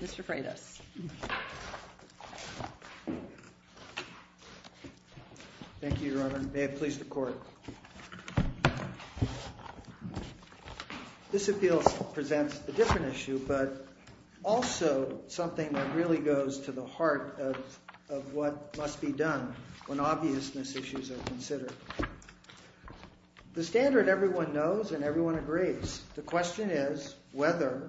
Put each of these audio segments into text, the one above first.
Mr. Freitas. Thank you, Your Honor, and may it please the Court. This appeal presents a different issue, but also something that really goes to the heart of what must be done when obviousness issues are considered. The standard everyone knows and everyone agrees, the question is whether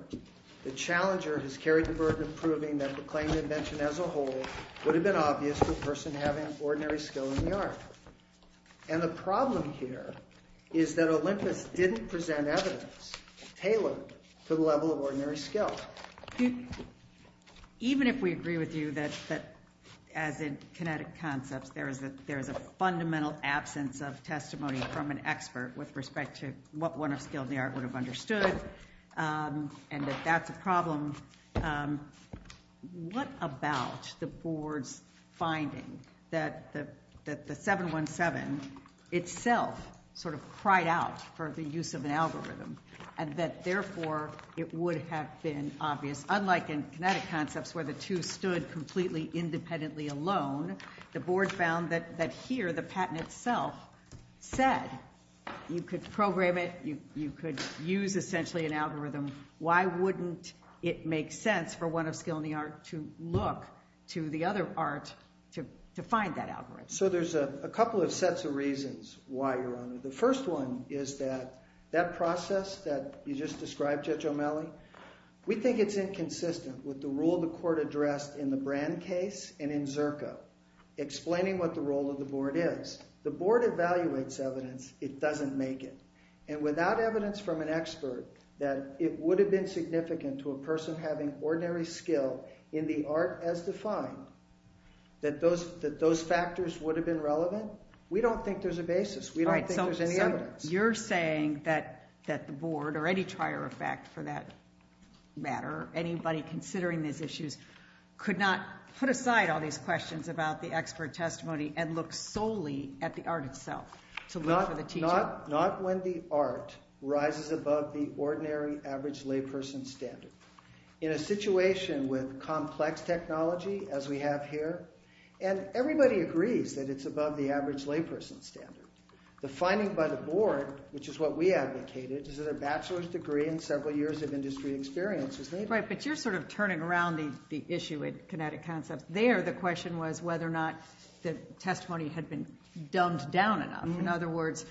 the challenger has carried the burden of proving that the claim to invention as a whole would have been obvious to a person having ordinary skill in the art. And the problem here is that Olympus didn't present evidence tailored to the level of ordinary skill. Even if we agree with you that as in kinetic concepts there is a fundamental absence of testimony from an expert with respect to what one of skill in the art would have understood, and that that's a problem, what about the Board's finding that the 717 itself sort of cried out for the use of an algorithm, and that therefore it would have been obvious, unlike in kinetic concepts where the two stood completely independently alone, the Board found that here the patent itself said you could program it, you could use essentially an algorithm. Why wouldn't it make sense for one of skill in the art to look to the other art to find that algorithm? So there's a couple of sets of reasons why, Your Honor. The first one is that that process that you just described, Judge O'Malley, we think it's inconsistent with the rule the court addressed in the Brand case and in Zerko explaining what the role of the Board is. The Board evaluates evidence, it doesn't make it. And without evidence from an expert that it would have been significant to a person having ordinary skill in the art as defined, that those that those factors would have been relevant, we don't think there's a basis. We don't think there's any evidence. You're saying that that the Board or any prior effect for that matter, anybody considering these issues could not put aside all these questions about the expert testimony and look solely at the art itself to look for the teacher? Not when the art rises above the ordinary average layperson standard. In a situation with complex technology as we have here, and everybody agrees that it's above the average layperson standard, the bachelor's degree and several years of industry experience is needed. Right, but you're sort of turning around the issue at Kinetic Concepts. There, the question was whether or not the testimony had been dumbed down enough. In other words,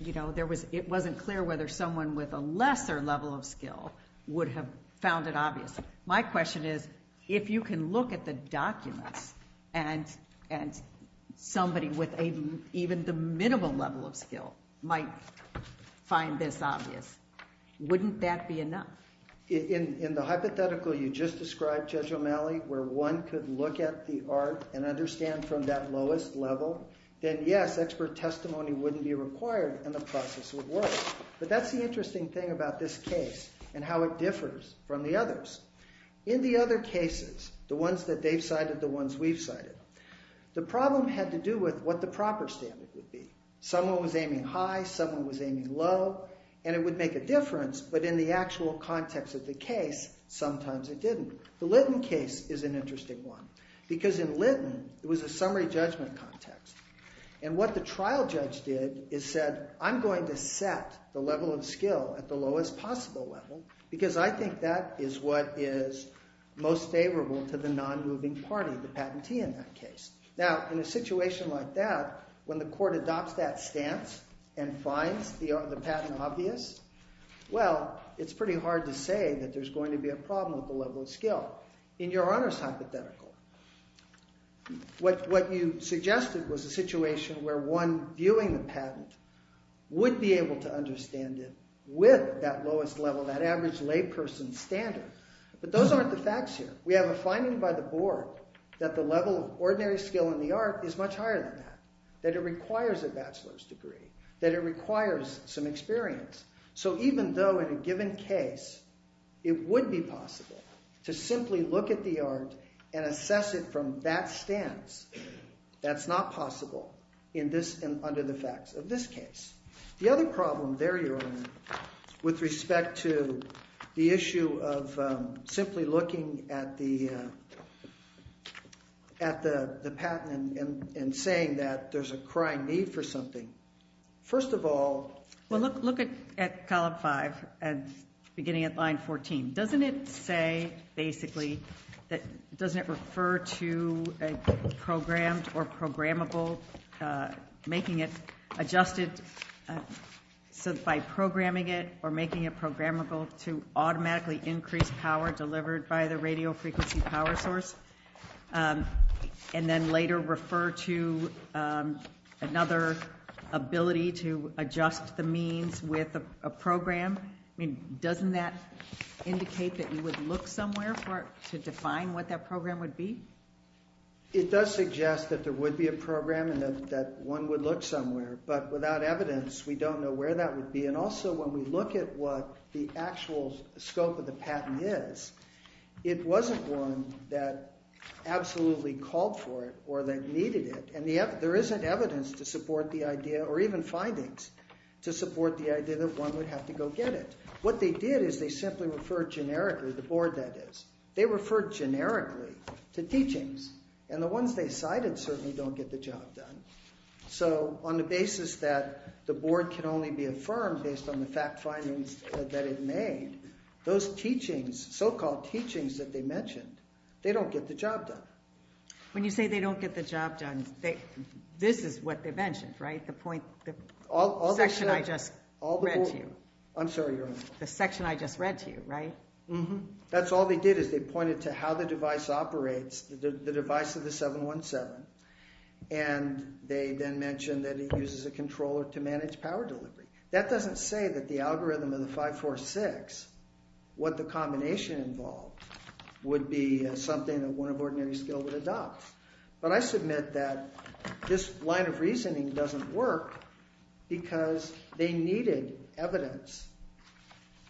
you know, there was it wasn't clear whether someone with a lesser level of skill would have found it obvious. My question is, if you can look at the documents and somebody with even the minimal level of skill might find this obvious, wouldn't that be enough? In the hypothetical you just described, Judge O'Malley, where one could look at the art and understand from that lowest level, then yes, expert testimony wouldn't be required and the process would work. But that's the interesting thing about this case and how it differs from the others. In the other cases, the ones that they've cited, the ones we've cited, the problem had to do with what the proper standard would be. Someone was aiming high, someone was aiming low, and it would make a difference, but in the actual context of the case, sometimes it didn't. The Litton case is an interesting one, because in Litton, it was a summary judgment context, and what the trial judge did is said, I'm going to set the level of skill at the lowest possible level, because I think that is what is most favorable to the non-moving party, the patentee in that case. Now, in a situation like that, when the court adopts that stance and finds the patent obvious, well, it's pretty hard to say that there's going to be a problem with the level of skill. In Your Honor's hypothetical, what you suggested was a situation where one viewing the patent would be able to standard, but those aren't the facts here. We have a finding by the board that the level of ordinary skill in the art is much higher than that, that it requires a bachelor's degree, that it requires some experience. So even though in a given case, it would be possible to simply look at the art and assess it from that stance, that's not possible under the facts of this case. The other view of simply looking at the patent and saying that there's a crying need for something, first of all... Well, look at column 5, beginning at line 14. Doesn't it say, basically, that, doesn't it refer to a programmed or programmable, making it adjusted, so by programming it or making it programmable to automatically increase power delivered by the radio frequency power source, and then later refer to another ability to adjust the means with a program? I mean, doesn't that indicate that you would look somewhere to define what that program would be? It does suggest that there would be a program and that one would look somewhere, but without evidence, we don't know where that would be, and also when we look at what the actual scope of the patent is, it wasn't one that absolutely called for it or that needed it, and yet there isn't evidence to support the idea or even findings to support the idea that one would have to go get it. What they did is they simply referred generically, the board that is, they referred generically to teachings, and the ones they cited certainly don't get the job done. So on the basis that the board can only be affirmed based on the fact findings that it made, those teachings, so-called teachings that they mentioned, they don't get the job done. When you say they don't get the job done, this is what they mentioned, right? The point, the section I just read to you, I'm sorry, the section I just read to you, right? That's all they did is they pointed to how the device operates, the device of the 717, and they then mentioned that it uses a controller to manage power delivery. That doesn't say that the algorithm of the 546, what the combination involved, would be something that one of ordinary skill would adopt, but I submit that this line of reasoning doesn't work because they needed evidence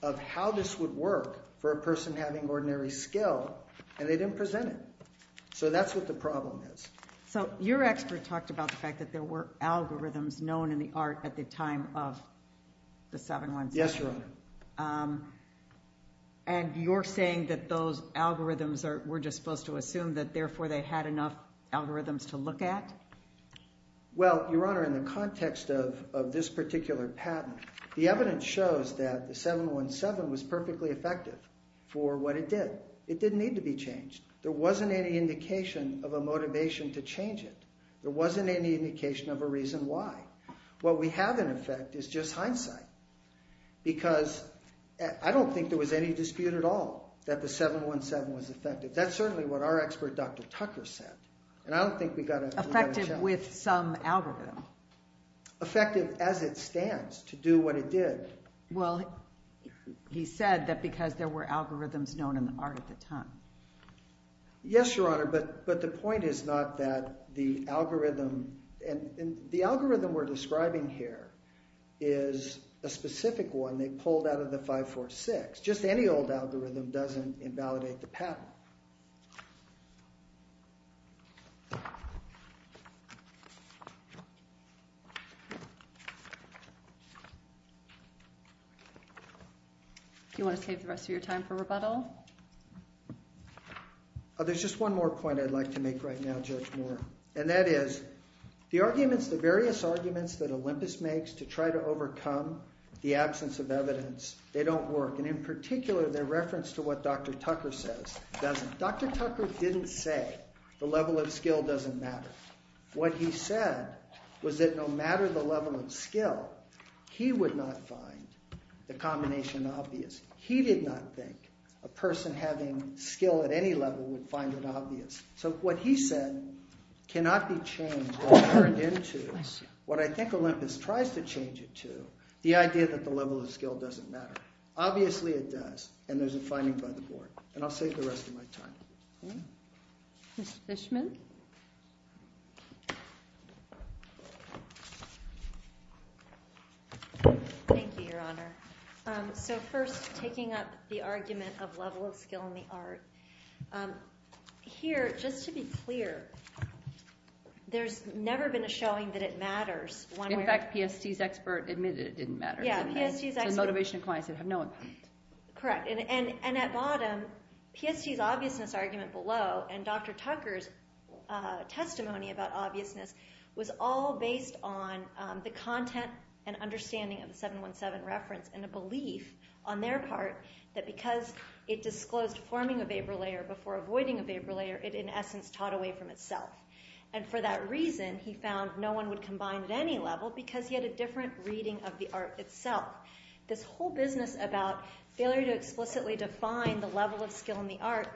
of how this would work for a person having ordinary skill, and they didn't present it. So that's what the problem is. So your expert talked about the fact that there were algorithms known in the art at the time of the 717. Yes, Your Honor. And you're saying that those algorithms were just supposed to assume that therefore they had enough algorithms to look at? Well, Your Honor, in the context of this particular patent, the evidence shows that the 717 was perfectly effective for what it did. It didn't need to be changed. There wasn't any indication of a motivation to change it. There wasn't any indication of a reason why. What we have in effect is just hindsight, because I don't think there was any dispute at all that the 717 was effective. That's certainly what our expert Dr. Tucker said, and I don't think we got it. Effective with some algorithm? Effective as it stands to do what it did. Well, he said that because there were algorithms known in the art at the time. Yes, Your Honor, but the point is not that the algorithm, and the algorithm we're describing here is a specific one they pulled out of the 546. Just any old algorithm doesn't invalidate the patent. Do you want to save the rest of your time for rebuttal? There's just one more point I'd like to make right now, Judge Moore, and that is the arguments, the various arguments that Olympus makes to try to overcome the absence of evidence, they don't work, and in particular their reference to what Dr. Tucker says doesn't. Dr. Tucker didn't say the level of skill doesn't matter. What he said was that no matter the level of skill, he would not find the combination obvious. He did not think a person having skill at any level would find it obvious, so what he said cannot be changed or turned into what I think Olympus tries to change it to, the idea that the level of skill doesn't matter. Obviously it does, and there's a finding by the board, and I'll save the rest of my time. Mr. Fishman? Thank you, Your Honor. So first, taking up the argument of level of skill in the art. Here, just to be clear, there's never been a showing that it matters. In fact, PST's expert admitted it didn't matter. Yeah, PST's expert. And at bottom, PST's obviousness argument below and Dr. Tucker's testimony about obviousness was all based on the content and understanding of the 7-1-7 reference and a belief on their part that because it disclosed forming a vapor layer before avoiding a vapor layer, it in essence taught away from itself, and for that reason he found no one would combine at any level because he had a different reading of the art itself. This whole business about failure to explicitly define the level of skill in the art,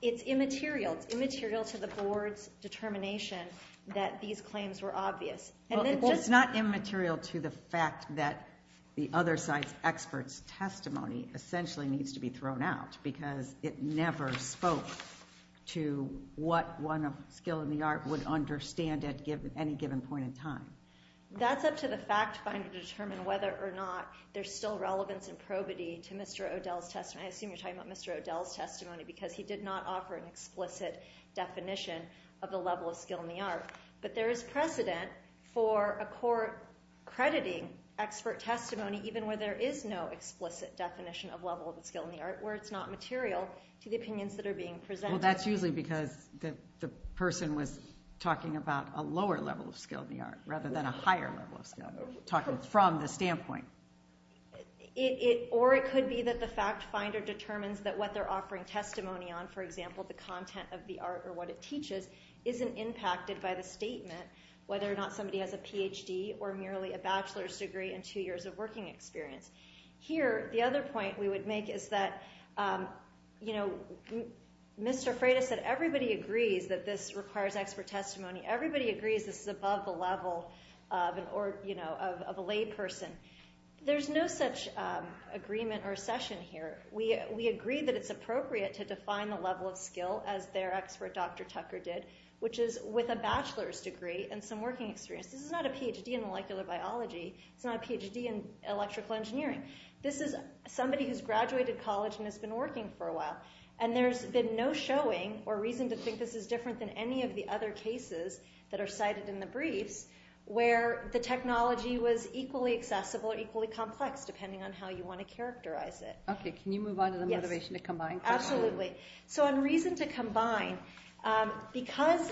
it's immaterial. It's immaterial to the board's determination that these claims were obvious. Well, it's not immaterial to the fact that the other side's expert's testimony essentially needs to be thrown out because it never spoke to what one of skill in the art would understand at any given point in time. That's up to the fact finder to determine whether or not there's still relevance and probity to Mr. O'Dell's testimony. I assume you're talking about Mr. O'Dell's testimony because he did not offer an explicit definition of the level of skill in the art, but there is precedent for a court crediting expert testimony even where there is no explicit definition of level of skill in the art where it's not material to the opinions that are being presented. Well, that's usually because the person was talking about a lower level of skill in the art rather than a higher level of skill, talking from the standpoint. Or it could be that the fact finder determines that what they're offering testimony on, for example, the content of the art or what it teaches, isn't impacted by the statement, whether or not somebody has a PhD or merely a bachelor's degree and two years of working experience. Here, the other point we would make is that, you know, Mr. Freitas said everybody agrees that this requires expert testimony. Everybody agrees this is above the level of an or, you know, of a lay person. There's no such agreement or session here. We agree that it's appropriate to define the level of skill as their expert Dr. Tucker did, which is with a bachelor's degree and some working experience. This is not a PhD in molecular biology. It's not a PhD in electrical engineering. This is somebody who's graduated college and has been working for a while. And there's been no showing or reason to think this is different than any of the other cases that are cited in the briefs, where the technology was equally accessible or equally complex, depending on how you want to characterize it. Okay, can you move on to the motivation to combine? Absolutely. So on reason to combine, because,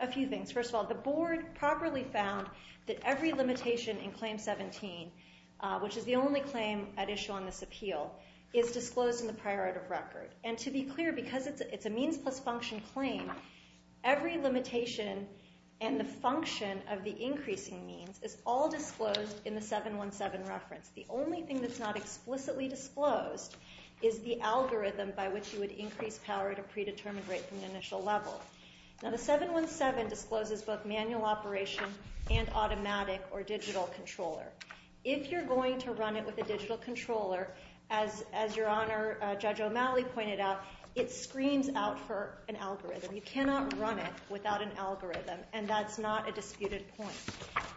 a few things. First of all, the board properly found that every claim at issue on this appeal is disclosed in the priority record. And to be clear, because it's a means plus function claim, every limitation and the function of the increasing means is all disclosed in the 717 reference. The only thing that's not explicitly disclosed is the algorithm by which you would increase power at a predetermined rate from the initial level. Now the 717 discloses both manual operation and automatic or digital controller. If you're going to run it with a digital controller, as your Honor Judge O'Malley pointed out, it screams out for an algorithm. You cannot run it without an algorithm, and that's not a disputed point.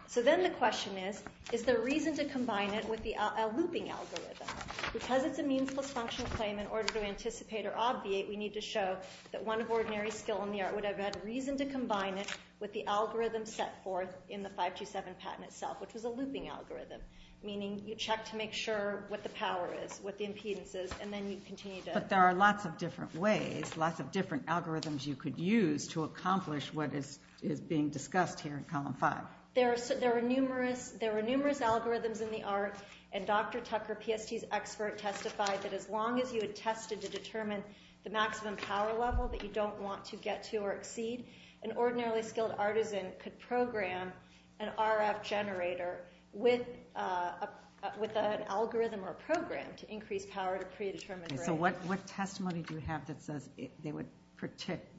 So then the question is, is there reason to combine it with a looping algorithm? Because it's a means plus function claim, in order to anticipate or obviate, we need to show that one of ordinary skill in the art would have had reason to combine it with the algorithm set forth in the 527 patent itself, which was a looping algorithm, meaning you check to make sure what the power is, what the impedance is, and then you continue to... But there are lots of different ways, lots of different algorithms you could use to accomplish what is being discussed here in Column 5. There are numerous algorithms in the art, and Dr. Tucker, PST's expert, testified that as long as you had tested to determine the maximum power level that you don't want to get to or exceed, an ordinarily skilled artisan could program an RF generator with an algorithm or program to increase power to predetermine rate. So what testimony do you have that says they would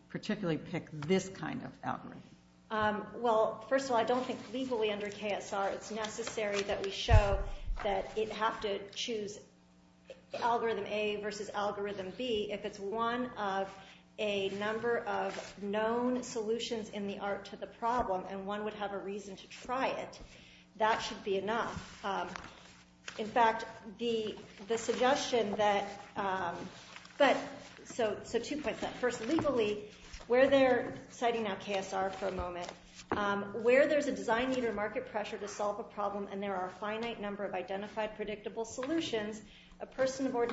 particularly pick this kind of algorithm? Well, first of all, I don't think legally under KSR it's necessary that we show that you'd have to choose algorithm A versus algorithm B if it's one of a number of known solutions in the art to the problem, and one would have a reason to try it. That should be enough. In fact, the suggestion that... But... So two points. First, legally, where they're citing now KSR for a moment, where there's a design need or market pressure to solve a problem and there are a finite number of identified predictable solutions, a person of her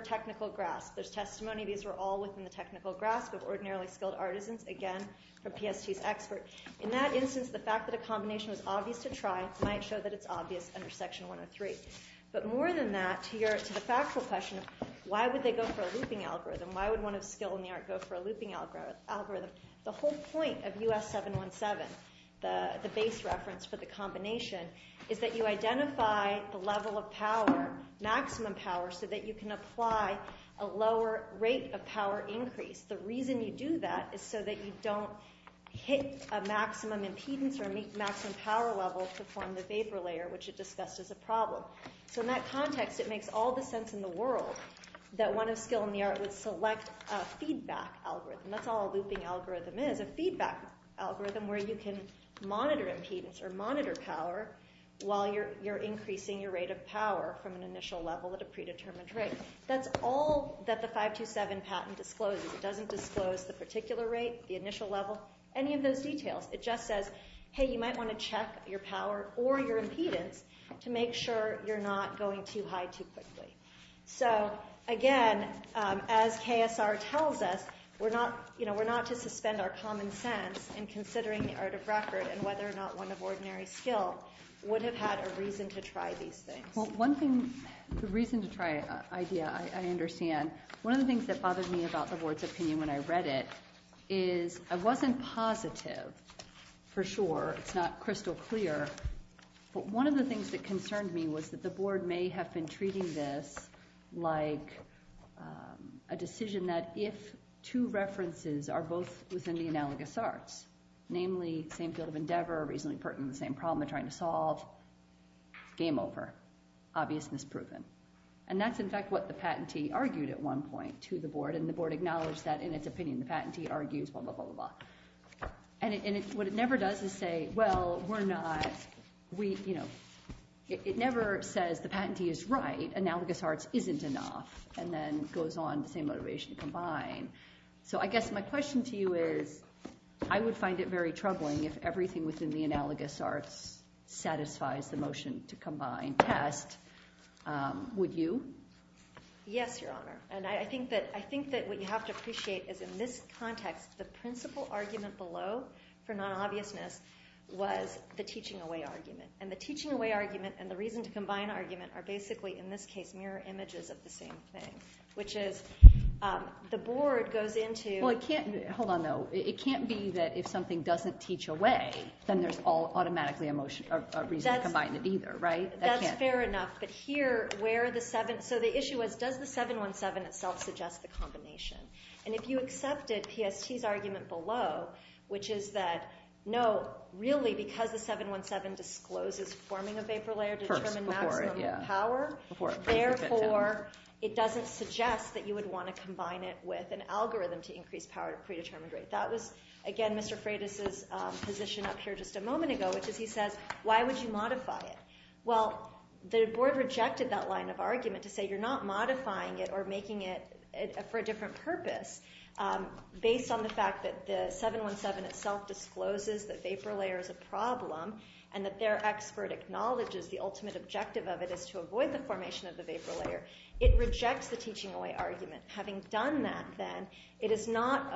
technical grasp. There's testimony, these were all within the technical grasp of ordinarily skilled artisans, again, from PST's expert. In that instance, the fact that a combination was obvious to try might show that it's obvious under Section 103. But more than that, to the factual question, why would they go for a looping algorithm? Why would one of skill in the art go for a looping algorithm? The whole point of US 717, the base reference for the combination, is that you identify the level of power, maximum power, so that you can apply a lower rate of power increase. The reason you do that is so that you don't hit a maximum impedance or a maximum power level to form the vapor layer, which is discussed as a problem. So in that context, it makes all the sense in the world that one of skill in the art would select a feedback algorithm. That's all a looping algorithm is, a feedback algorithm where you can monitor impedance or monitor power while you're increasing your rate of power from an initial level at a predetermined rate. That's all that the 527 patent discloses. It doesn't disclose the particular rate, the initial level, any of those details. It just says, hey, you might want to check your power or your impedance to make sure you're not going too high too quickly. So again, as KSR tells us, we're not, you know, we're not to suspend our common sense in considering the art of record and whether or not one of ordinary skill would have had a reason to try these things. Well, one thing, the reason to try idea, I understand. One of the things that bothered me about the board's opinion when I read it is, I wasn't positive for sure, it's not crystal clear, but one of the things that concerned me was that the board may have been treating this like a decision that if two references are both within the analogous arts, namely, same field of endeavor, reasonably pertinent to the same problem they're trying to solve, game over, obvious, misproven. And that's in fact what the patentee argued at one point to the board, and the board acknowledged that in its opinion, the patentee argues, blah, blah, blah, blah, blah. And what it never does is say, well, we're not, we, you know, it never says the patentee is right, analogous arts isn't enough, and then goes on the same motivation to combine. So I guess my question to you is, I would find it very troubling if everything within the analogous arts satisfies the motion to combine test. Would you? Yes, Your Honor. And I think that, I think that what you have to appreciate is in this context, the principal argument below for non-obviousness was the teaching away argument. And the teaching away argument and the reason to combine argument are basically, in this case, mirror images of the same thing, which is, the board goes into. Well, it can't, hold on though. It can't be that if something doesn't teach away, then there's all automatically a motion, a reason to combine it either, right? That's fair enough, but here, where the seven, so the issue was, does the 717 itself suggest the combination? And if you accepted PST's argument below, which is that, no, really, because the 717 discloses forming a vapor layer to determine maximum power. Therefore, it doesn't suggest that you would want to combine it with an algorithm to increase power at a predetermined rate. That was, again, Mr. Freitas' position up here just a moment ago, which is, he says, why would you modify it? Well, the board rejected that line of argument to say you're not modifying it or making it for a different purpose based on the fact that the 717 itself discloses that vapor layer is a problem and that their expert acknowledges the ultimate objective of it is to avoid the formation of the vapor layer. It rejects the teaching away argument. Having done that, then, it is not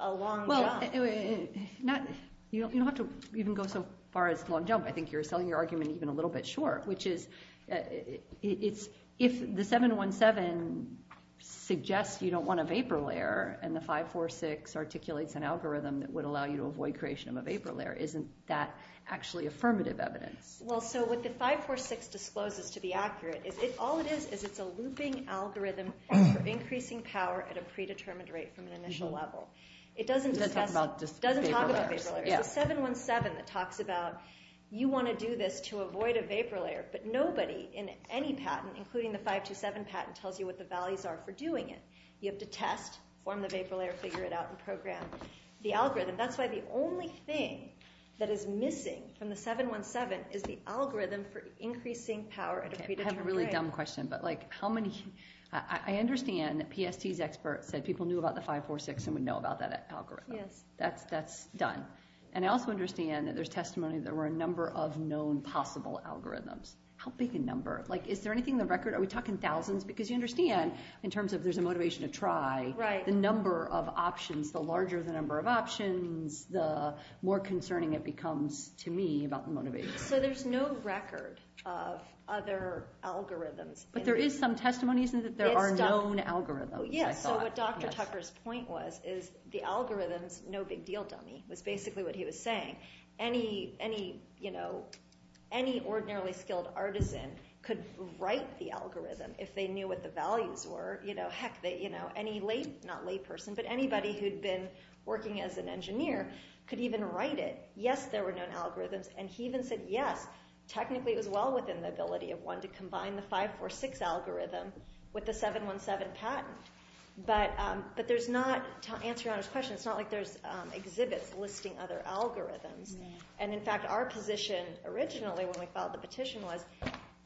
a long jump. Well, you don't have to even go so far as long jump. I think you're selling your argument even a little bit short, which is, if the 717 suggests you don't want a vapor layer and the 546 articulates an algorithm that would allow you to avoid creation of a vapor layer, isn't that actually affirmative evidence? Well, so what the 546 discloses, to be accurate, is all it is is it's a looping algorithm of increasing power at a predetermined rate from an initial level. It doesn't discuss, doesn't talk about vapor layers. It's the 717 that talks about, you want to do this to avoid a vapor layer, but nobody in any patent, including the 527 patent, tells you what the values are for doing it. You have to test, form the vapor layer, figure it out, and program the algorithm. That's why the only thing that is missing from the 717 is the algorithm for increasing power at a predetermined rate. I have a really dumb question, but like, how many, I understand that PST's experts said people knew about the 546 and would know about that algorithm. That's done. And I also understand that there's testimony that there were a number of known possible algorithms. How big a number? Like, is there anything in the record? Are we talking thousands? Because you understand, in terms of there's a motivation to try, the number of options, the larger the number of options, the more concerning it becomes to me about the motivation. So there's no record of other algorithms. But there is some testimony, isn't it, that there are known algorithms? Yes, so what Dr. Tucker's point was is the algorithms, no big deal dummy, was basically what he was saying. Any ordinarily skilled artisan could write the algorithm if they knew what the values were. Heck, any lay, not layperson, but anybody who'd been working as an engineer could even write it. Yes, there were known algorithms, and he even said yes, technically it was well within the ability of one to combine the 546 algorithm with the 717 patent. But there's not, to answer Your Honor's question, it's not like there's exhibits listing other algorithms. And in fact, our position originally when we filed the petition was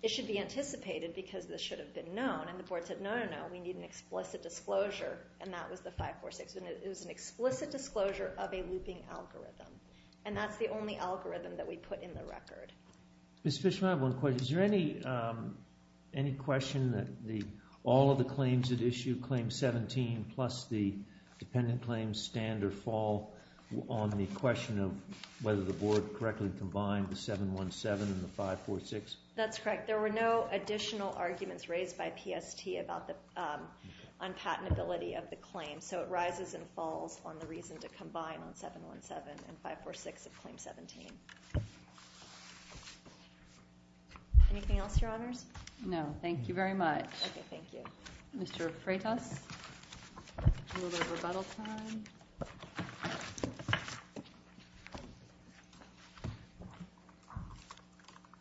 it should be anticipated because this should have been known, and the board said no, no, no, we need an explicit disclosure, and that was the 546, and it was an explicit disclosure of a looping algorithm. And that's the only algorithm that we put in the record. Ms. Fishman, I have one question. Is there any question that all of the claims that issue Claim 17 plus the dependent claims standard fall on the question of whether the board correctly combined the 717 and the 546? That's correct. There were no additional arguments raised by PST about the unpatentability of the claim, so it rises and falls on the reason to combine on 717 and 546 of Claim 17. Anything else, Your Honors? No, thank you very much. Okay, thank you. Mr. Freitas, a little bit of rebuttal time.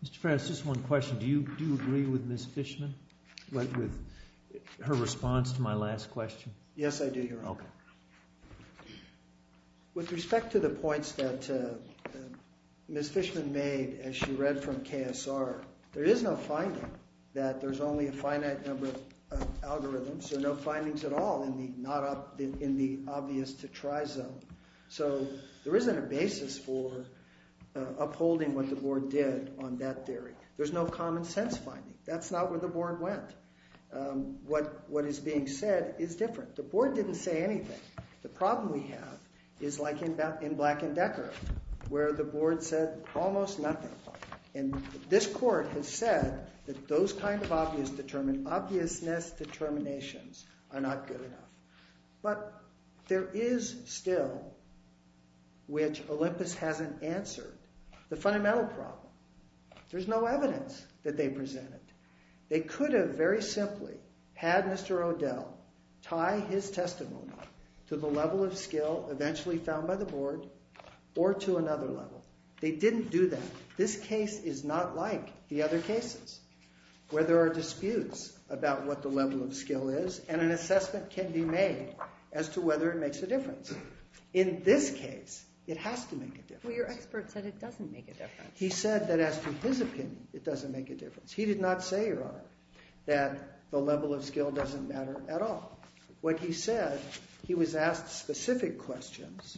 Mr. Freitas, just one question. Do you agree with Ms. Fishman, with her response to my last question? Yes, I do, Your Honor. Okay. With respect to the points that Ms. Fishman made, as she read from KSR, there is no finding that there's only a finite number of algorithms, so no findings at all in the obvious to try zone. So there isn't a basis for upholding what the board did on that theory. There's no common sense finding. That's not where the board went. What is being said is different. The board didn't say anything. The problem we have is like in Black and Decker, where the board said almost nothing. And this court has said that those kind of obviousness determinations are not good enough. But there is still, which Olympus hasn't answered, the fundamental problem. There's no evidence that they presented. They could have very simply had Mr. O'Dell tie his testimony to the level of skill eventually found by the board or to another level. They didn't do that. This case is not like the other cases where there are disputes about what the level of skill is and an assessment can be made as to whether it makes a difference. In this case, it has to make a difference. Well, your expert said it doesn't make a difference. He said that as to his opinion, it doesn't make a difference. He did not say, Your Honor, that the level of skill doesn't matter at all. What he said, he was asked specific questions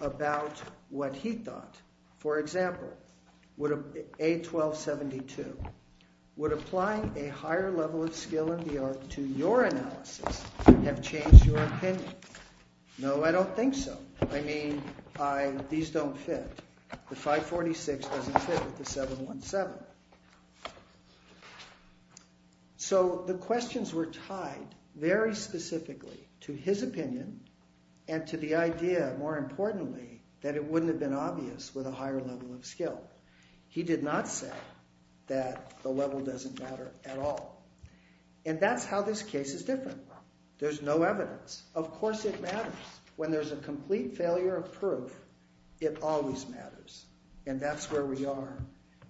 about what he thought. For example, A1272, would applying a higher level of skill in the art to your analysis have changed your opinion? No, I don't think so. I mean, these don't fit. The 546 doesn't fit with the 717. So the questions were tied very specifically to his opinion and to the idea, more importantly, that it wouldn't have been obvious with a higher level of skill. He did not say that the level doesn't matter at all. And that's how this case is different. There's no evidence. Of course it matters. When there's a complete failure of proof, it always matters. And that's where we are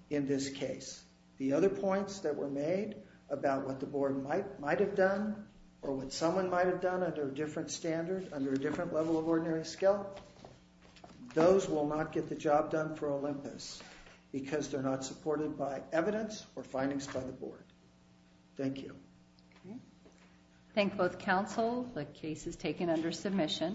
in this case. The other points that were made about what the board might have done or what someone might have done under a different standard, under a different level of ordinary skill, those will not get the job done for Olympus. Because they're not supported by evidence or findings by the board. Thank you. I thank both counsel. The case is taken under submission.